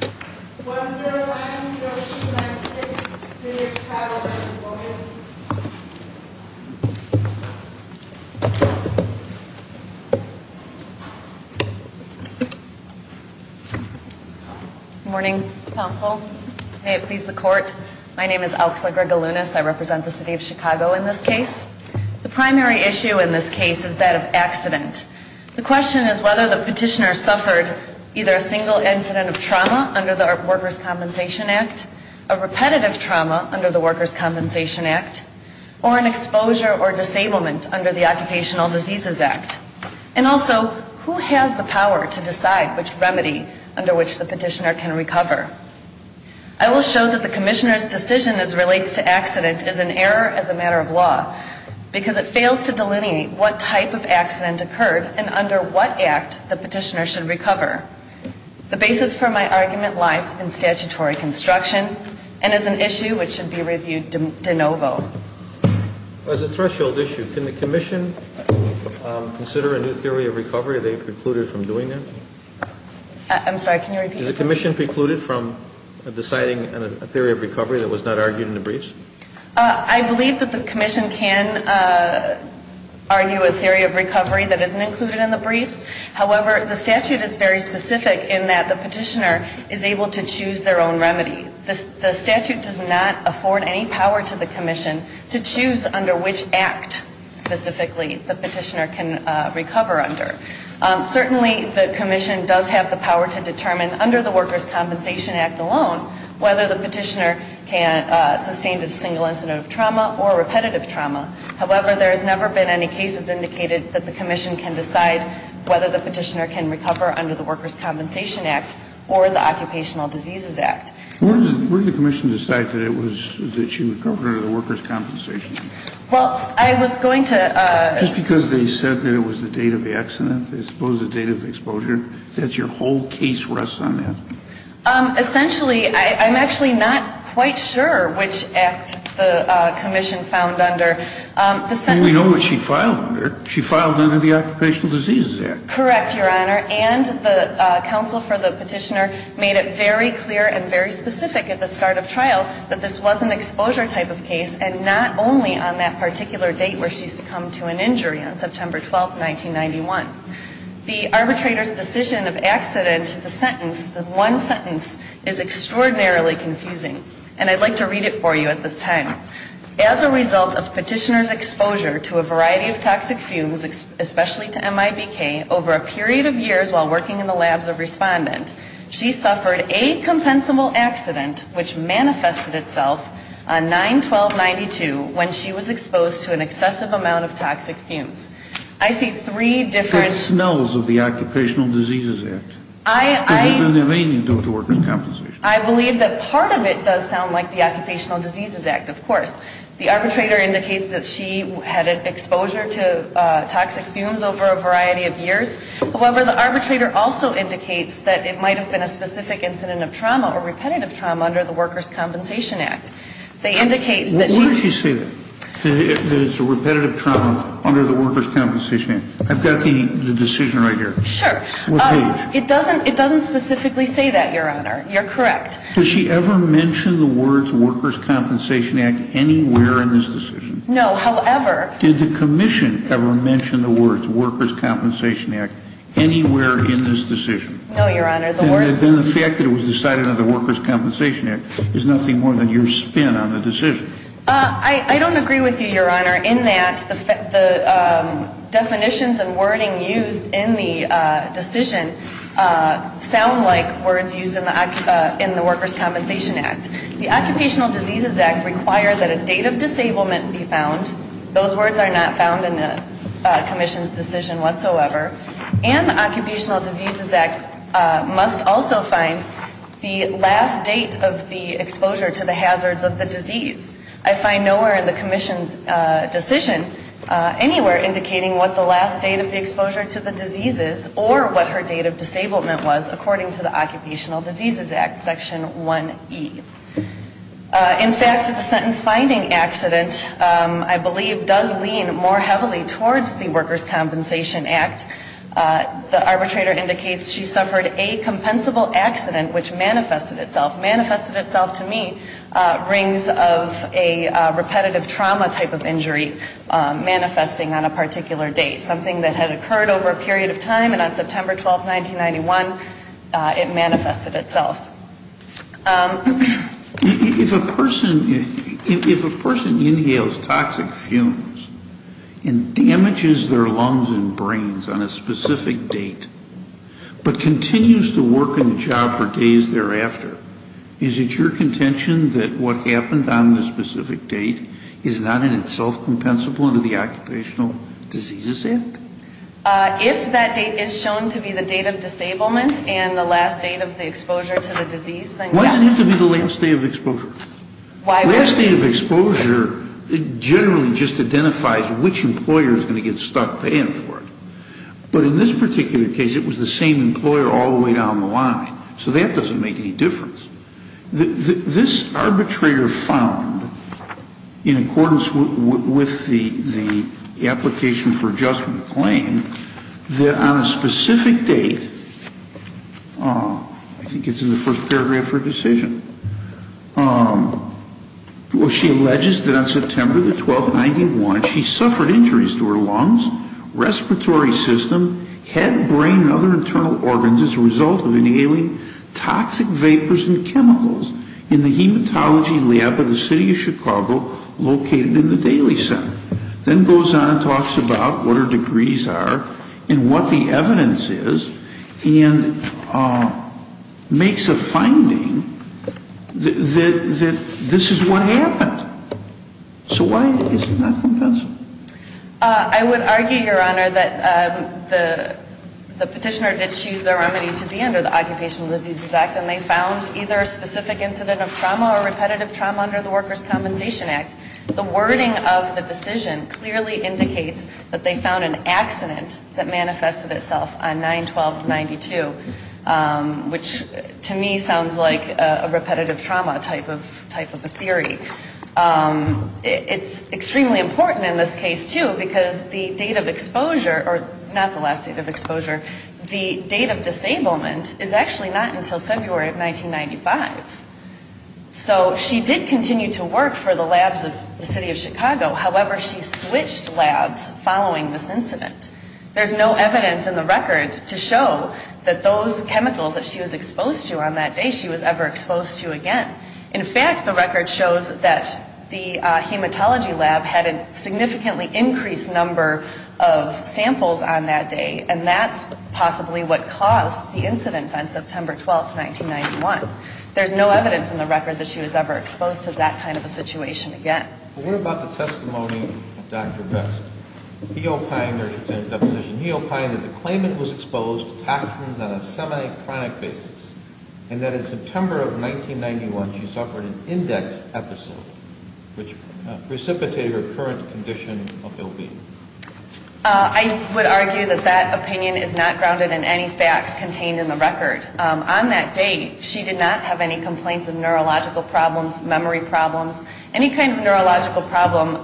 Good morning, counsel. May it please the court. My name is Elsa Greger-Lunas. I represent the City of Chicago in this case. The primary issue in this case is that of accident. The under the Workers' Compensation Act, a repetitive trauma under the Workers' Compensation Act, or an exposure or disablement under the Occupational Diseases Act? And also, who has the power to decide which remedy under which the petitioner can recover? I will show that the Commissioner's decision as relates to accident is an error as a matter of law, because it fails to delineate what type of accident occurred and under what act the petitioner should recover. The basis for my argument lies in statutory construction and is an issue which should be reviewed de novo. As a threshold issue, can the Commission consider a new theory of recovery if they precluded from doing it? I'm sorry, can you repeat? Is the Commission precluded from deciding a theory of recovery that was not argued in the briefs? I believe that the Commission can argue a theory of recovery that isn't included in the briefs. However, the statute is very specific in that the petitioner is able to choose their own remedy. The statute does not afford any power to the Commission to choose under which act specifically the petitioner can recover under. Certainly, the Commission does have the power to determine under the Workers' Compensation Act alone whether the petitioner can sustain a single incident of trauma or repetitive trauma. However, there has never been any cases indicated that the Commission can decide whether the petitioner can recover under the Workers' Compensation Act or the Occupational Diseases Act. Where did the Commission decide that it was, that she would recover under the Workers' Compensation Act? Well, I was going to Just because they said that it was the date of the accident, they suppose the date of exposure, that your whole case rests on that? Essentially, I'm actually not quite sure which act the Commission found under. We know what she filed under. She filed under the Occupational Diseases Act. Correct, Your Honor. And the counsel for the petitioner made it very clear and very specific at the start of trial that this was an exposure type of case and not only on that particular date where she succumbed to an injury on September 12, 1991. The arbitrator's decision of accident to the sentence, the one sentence, is extraordinarily confusing. And I'd like to read it for you at this time. As a result of petitioner's exposure to a variety of toxic fumes, especially to MIBK, over a period of years while working in the labs of respondent, she suffered a compensable accident which manifested itself on 9-12-92 when she was exposed to an excessive amount of toxic fumes. I see three different... I've got smells of the Occupational Diseases Act. I believe that part of it does sound like the Occupational Diseases Act, of course. The arbitrator indicates that she had exposure to toxic fumes over a variety of years. However, the arbitrator also indicates that it might have been a specific incident of trauma or repetitive trauma under the Workers' Compensation Act. They indicate that she... Why did she say that, that it's a repetitive trauma under the Workers' Compensation Act? I've got the decision right here. Sure. What page? It doesn't specifically say that, Your Honor. You're correct. Did she ever mention the words Workers' Compensation Act anywhere in this decision? No. However... Did the Commission ever mention the words Workers' Compensation Act anywhere in this decision? No, Your Honor. Then the fact that it was decided under the Workers' Compensation Act is nothing more than your spin on the decision. I don't agree with you, Your Honor, in that the definitions and wording used in the decision sound like words used in the Workers' Compensation Act. The Occupational Diseases Act requires that a date of disablement be found. Those words are not found in the Commission's decision whatsoever. And the Occupational Diseases Act must also find the last date of the exposure to the hazards of the disease. I find nowhere in the Commission's decision anywhere indicating what the last date of the exposure to the disease is, or what her date of disablement was according to the Occupational Diseases Act, Section 1E. In fact, the sentence-finding accident, I believe, does lean more heavily towards the Workers' Compensation Act. The arbitrator indicates she suffered a compensable accident which manifested itself. Manifested itself to me rings of a repetitive trauma type of injury manifesting on a particular date. Something that had occurred over a period of time, and on September 12, 1991, it manifested itself. If a person inhales toxic fumes and damages their lungs and brains on a specific date, but continues to work in the job for days thereafter, is it your contention that what happened on the specific date is not in itself compensable under the Occupational Diseases Act? If that date is shown to be the date of disablement and the last date of the exposure to the disease, then yes. Why does it have to be the last date of exposure? The last date of exposure generally just identifies which employer is going to get stuck paying for it. But in this particular case, it was the same employer all the way down the line. So that doesn't make any difference. This arbitrator found, in accordance with the application for adjustment claim, that on a specific date, I think it's in the first paragraph of her decision, she alleges that on September 12, 1991, she suffered injuries to her lungs, respiratory system, head, brain, and other internal organs as a result of inhaling toxic vapors and chemicals in the hematology lab of the city of Chicago located in the Daly Center. Then goes on and talks about what her degrees are and what the evidence is, and makes a finding that this is what happened. So why is it not compensable? I would argue, Your Honor, that the petitioner did choose the remedy to be under the Occupational Diseases Act, and they found either a specific incident of trauma or repetitive trauma under the Workers' Compensation Act. The wording of the decision clearly indicates that they found an accident that manifested itself on 9-12-92, which to me sounds like a repetitive trauma type of a theory. It's extremely important in this case, too, because the date of exposure, or not the last date of exposure, the date of disablement is actually not until February of 1995. So she did continue to work for the labs of the city of Chicago. However, she switched labs following this incident. There's no evidence in the record to show that those chemicals that she was exposed to on that day, she was ever exposed to again. In fact, the record shows that the hematology lab had a significantly increased number of samples on that day, and that's possibly what caused the incident on September 12, 1991. There's no evidence in the record that she was ever exposed to that kind of a situation again. Well, what about the testimony of Dr. Vest? He opined, there's his deposition, he opined that the claimant was exposed to toxins on a semi-chronic basis, and that in September of 1991 she suffered an index episode, which precipitated her current condition of ill-being. I would argue that that opinion is not grounded in any facts contained in the record. On that date, she did not have any complaints of neurological problems, memory problems, any kind of neurological problem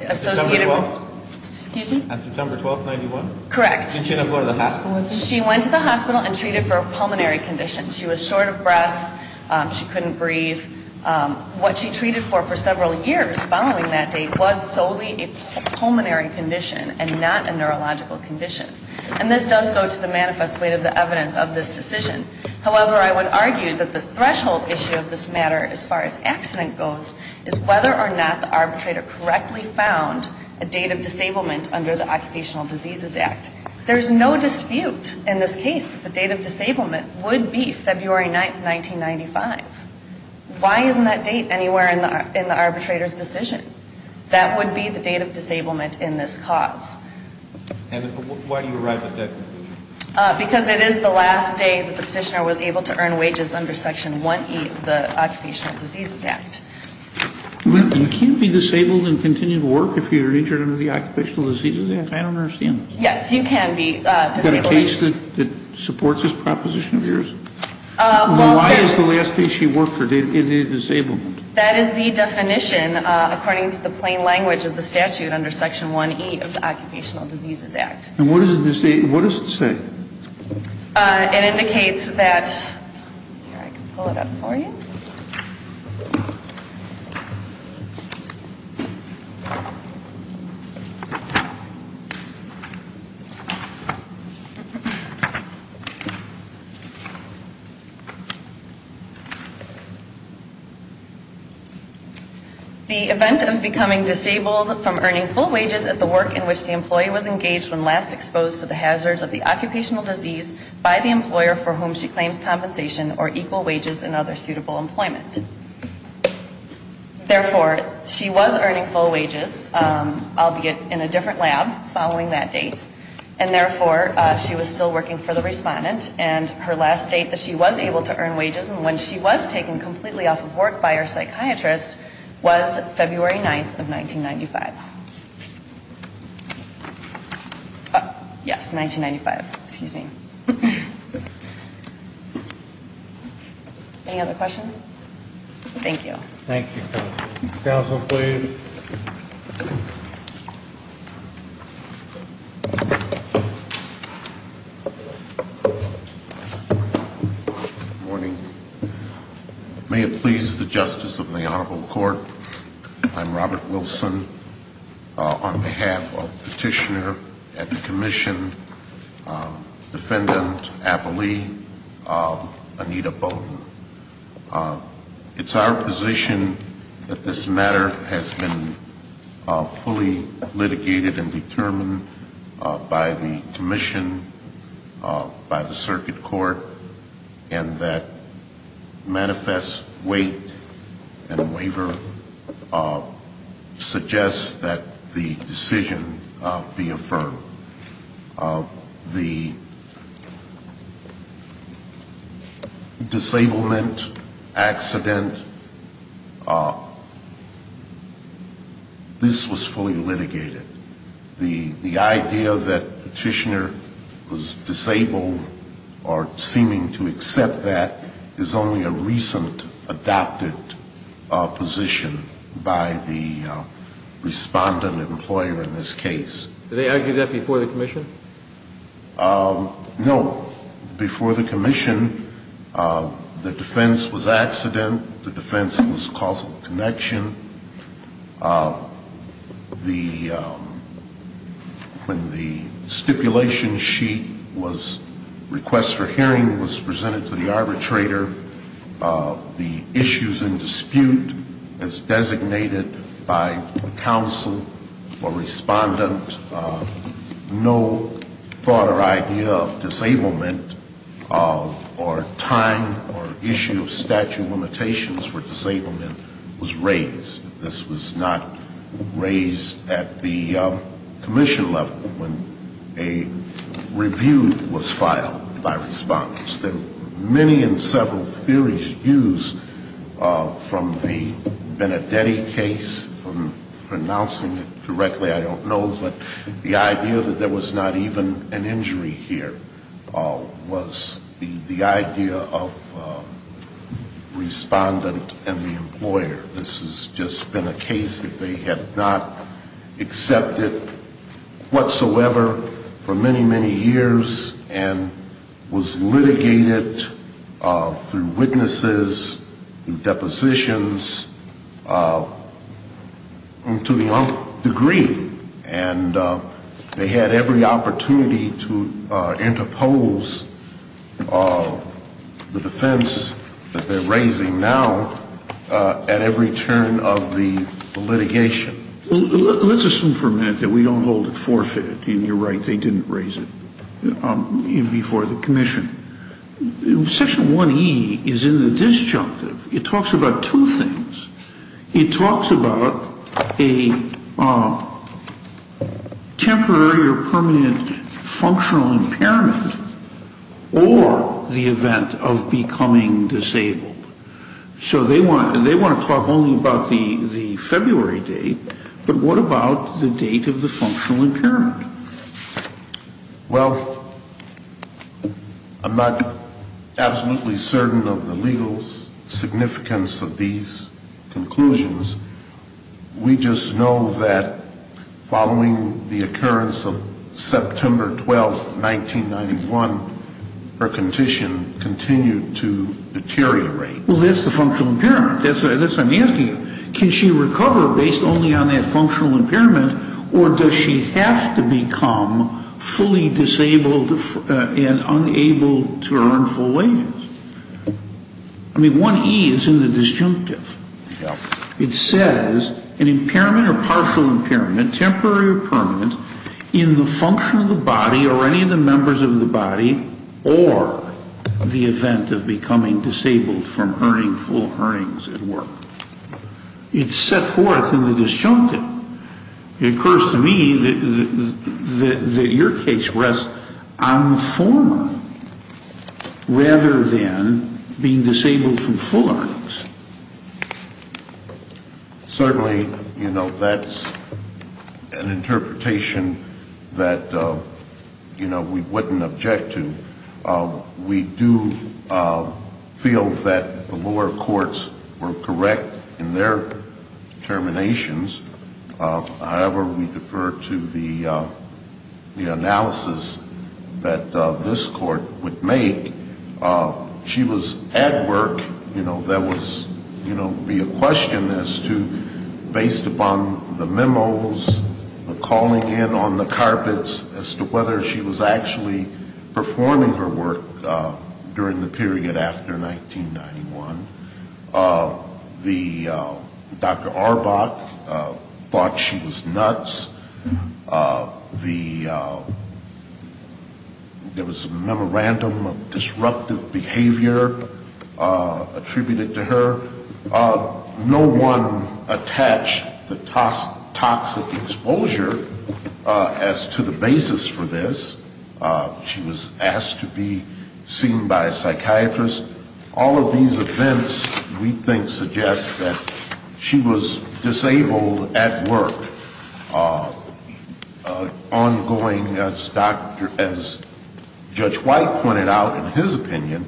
associated with her. On September 12, 1991? Correct. She didn't go to the hospital? She went to the hospital and treated for a pulmonary condition. She was short of breath. She couldn't breathe. What she treated for for several years following that date was solely a pulmonary condition and not a neurological condition. And this does go to the manifest way of the evidence of this decision. However, I would argue that the threshold issue of this matter as far as accident goes, is whether or not the arbitrator correctly found a date of disablement under the Occupational Diseases Act. There's no dispute in this case that the date of disablement would be February 9, 1995. Why isn't that date anywhere in the arbitrator's decision? That would be the date of disablement in this cause. And why do you arrive at that conclusion? Because it is the last day that the petitioner was able to earn wages under Section 1E of the Occupational Diseases Act. You can't be disabled and continue to work if you're injured under the Occupational Diseases Act? I don't understand this. Yes, you can be disabled. Is there a case that supports this proposition of yours? Why is the last day she worked her date of disablement? That is the definition according to the plain language of the statute under Section 1E of the Occupational Diseases Act. And what does it say? It indicates that, here I can pull it up for you. The event of becoming disabled from earning full wages at the work in which the employee was engaged when last exposed to the hazards of the occupational disease by the employer for whom she claims compensation or equal wages and other suitable employment. I'll be in a different lab following that date. And therefore, she was still working for the respondent. And her last date that she was able to earn wages and when she was taken completely off of work by her psychiatrist was February 9th of 1995. Yes, 1995. Excuse me. Any other questions? Thank you. Thank you. Counsel, please. Good morning. May it please the Justice of the Honorable Court. I'm Robert Wilson. On behalf of Petitioner at the Commission, Defendant Applee, Anita Bowden. It's our position that this matter has been fully litigated and determined by the Commission, by the Circuit Court, and that manifest weight and waiver suggests that the decision be affirmed. The disablement accident, this was fully litigated. The idea that Petitioner was disabled or seeming to accept that is only a recent adopted position by the respondent Do they argue that before the Commission? No. Before the Commission, the defense was accident. The defense was causal connection. When the stipulation sheet was requested for hearing, it was presented to the arbitrator. The issues in dispute as designated by counsel or respondent, no thought or idea of disablement or time or issue of statute of limitations for disablement was raised. This was not raised at the Commission level when a review was filed by respondents. Many and several theories used from the Benedetti case, from pronouncing it correctly, I don't know, but the idea that there was not even an injury here was the idea of respondent and the employer. This has just been a case that they have not accepted whatsoever for many, many years and was litigated through witnesses and depositions to the degree. And they had every opportunity to interpose the defense that they're raising now at every turn of the litigation. Let's assume for a minute that we don't hold it forfeited, and you're right, they didn't raise it before the Commission. Section 1E is in the disjunctive. It talks about two things. It talks about a temporary or permanent functional impairment or the event of becoming disabled. So they want to talk only about the February date, but what about the date of the functional impairment? Well, I'm not absolutely certain of the legal significance of these conclusions. We just know that following the occurrence of September 12, 1991, her condition continued to deteriorate. Well, that's the functional impairment. That's what I'm asking you. Can she recover based only on that functional impairment, or does she have to become fully disabled and unable to earn full wages? I mean, 1E is in the disjunctive. It says an impairment or partial impairment, temporary or permanent, in the function of the body or any of the members of the body or the event of becoming disabled from earning full earnings at work. It's set forth in the disjunctive. It occurs to me that your case rests on the former rather than being disabled from full earnings. Certainly, you know, that's an interpretation that, you know, we wouldn't object to. We do feel that the lower courts were correct in their determinations. However, we defer to the analysis that this court would make. She was at work. You know, there would be a question as to, based upon the memos, the calling in on the carpets, as to whether she was actually performing her work during the period after 1991. Dr. Auerbach thought she was nuts. There was a memorandum of disruptive behavior attributed to her. No one attached the toxic exposure as to the basis for this. She was asked to be seen by a psychiatrist. All of these events, we think, suggest that she was disabled at work. Ongoing, as Judge White pointed out in his opinion,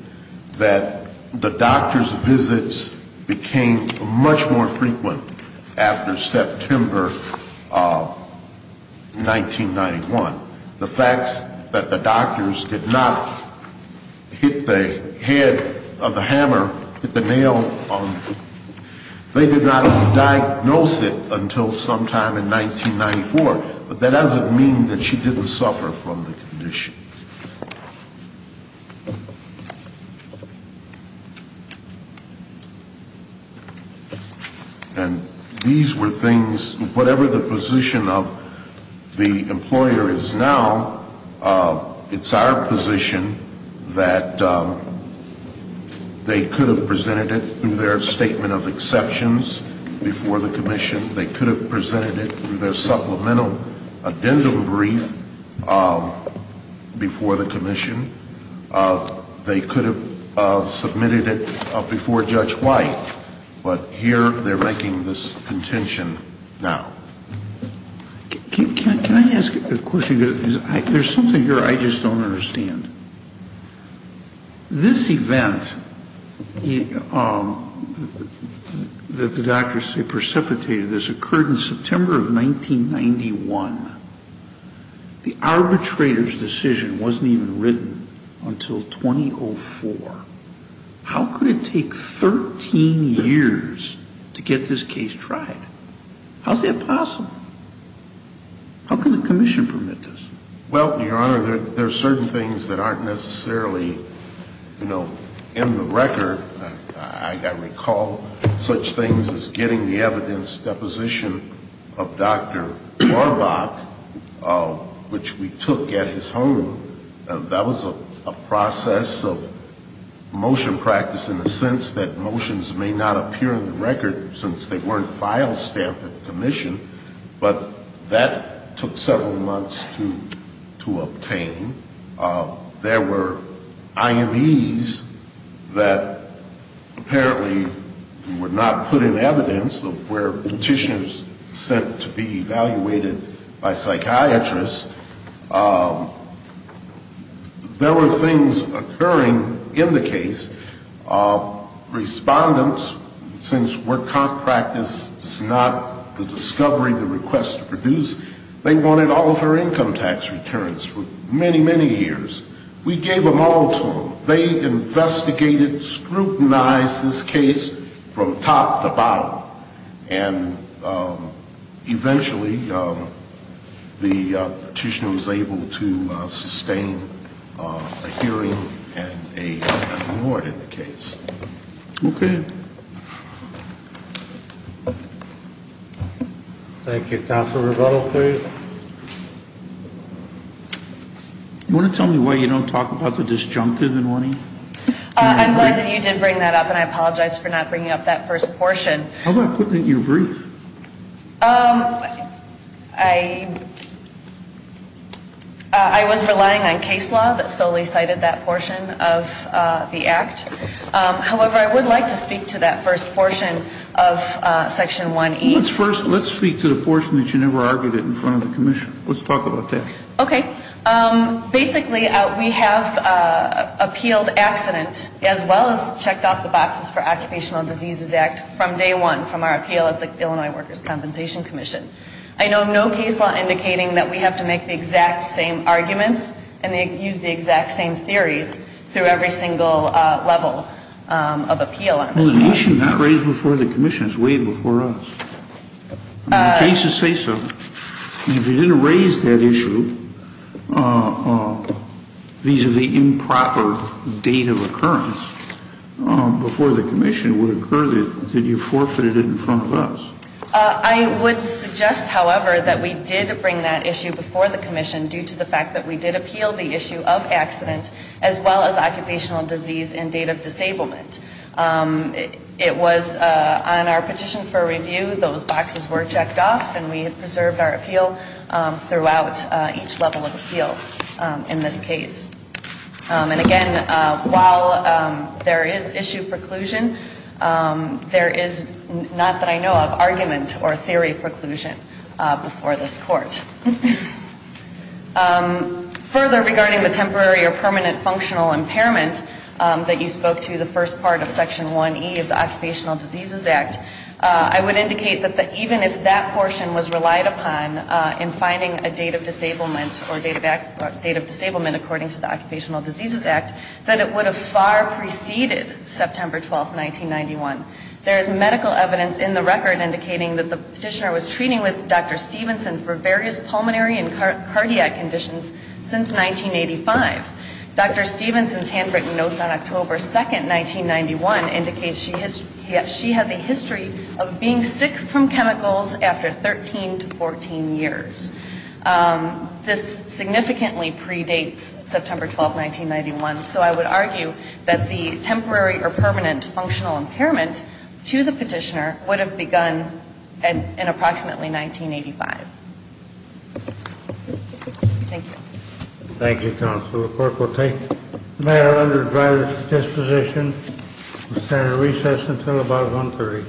that the doctor's visits became much more frequent after September 1991. The facts that the doctors did not hit the head of the hammer, hit the nail on the head, they did not diagnose it until sometime in 1994. But that doesn't mean that she didn't suffer from the condition. And these were things, whatever the position of the employer is now, it's our position that they could have presented it through their statement of exceptions before the commission. They could have presented it through their supplemental addendum brief. before the commission. They could have submitted it before Judge White. But here they're making this contention now. Can I ask a question? There's something here I just don't understand. This event that the doctors say precipitated this occurred in September of 1991. The arbitrator's decision wasn't even written until 2004. How could it take 13 years to get this case tried? How's that possible? How can the commission permit this? Well, Your Honor, there are certain things that aren't necessarily in the record. I recall such things as getting the evidence deposition of Dr. Warbach, which we took at his home. That was a process of motion practice in the sense that motions may not appear in the record since they weren't file stamped at the commission. But that took several months to obtain. There were IMEs that apparently were not put in evidence of where petitions sent to be evaluated by psychiatrists. There were things occurring in the case. Respondents, since work contract is not the discovery, the request to produce, they wanted all of her income tax returns for many, many years. We gave them all to them. They investigated, scrutinized this case from top to bottom. And eventually the petitioner was able to sustain a hearing and a reward in the case. Okay. Thank you. Counsel Revettal, please. You want to tell me why you don't talk about the disjunctive in warning? I'm glad that you did bring that up, and I apologize for not bringing up that first portion. How about putting it in your brief? I was relying on case law that solely cited that portion of the act. However, I would like to speak to that first portion of Section 1E. Let's speak to the portion that you never argued it in front of the commission. Let's talk about that. Okay. Basically, we have appealed accident as well as checked off the boxes for Occupational Diseases Act from day one, from our appeal at the Illinois Workers' Compensation Commission. I know no case law indicating that we have to make the exact same arguments and use the exact same theories through every single level of appeal. Well, the issue not raised before the commission is weighed before us. The cases say so. If you didn't raise that issue vis-à-vis improper date of occurrence before the commission, it would occur that you forfeited it in front of us. I would suggest, however, that we did bring that issue before the commission due to the fact that we did appeal the issue of accident as well as occupational disease and date of disablement. It was on our petition for review, those boxes were checked off and we have preserved our appeal throughout each level of appeal in this case. And again, while there is issue preclusion, there is not that I know of argument or theory preclusion before this court. Further, regarding the temporary or permanent functional impairment that you spoke to, the first part of Section 1E of the Occupational Diseases Act, I would indicate that even if that portion was relied upon in finding a date of disablement or date of disablement according to the Occupational Diseases Act, that it would have far preceded September 12, 1991. There is medical evidence in the record indicating that the petitioner was treating with Dr. Stevenson for various pulmonary and cardiac conditions since 1985. Dr. Stevenson's handwritten notes on October 2, 1991 indicates she has a history of being sick from chemicals after 13 to 14 years. This significantly predates September 12, 1991, so I would argue that the temporary or permanent functional impairment to the petitioner would have begun in approximately 1985. Thank you. Thank you, counsel. The court will take the matter under driver's disposition and stand at recess until about 1.30.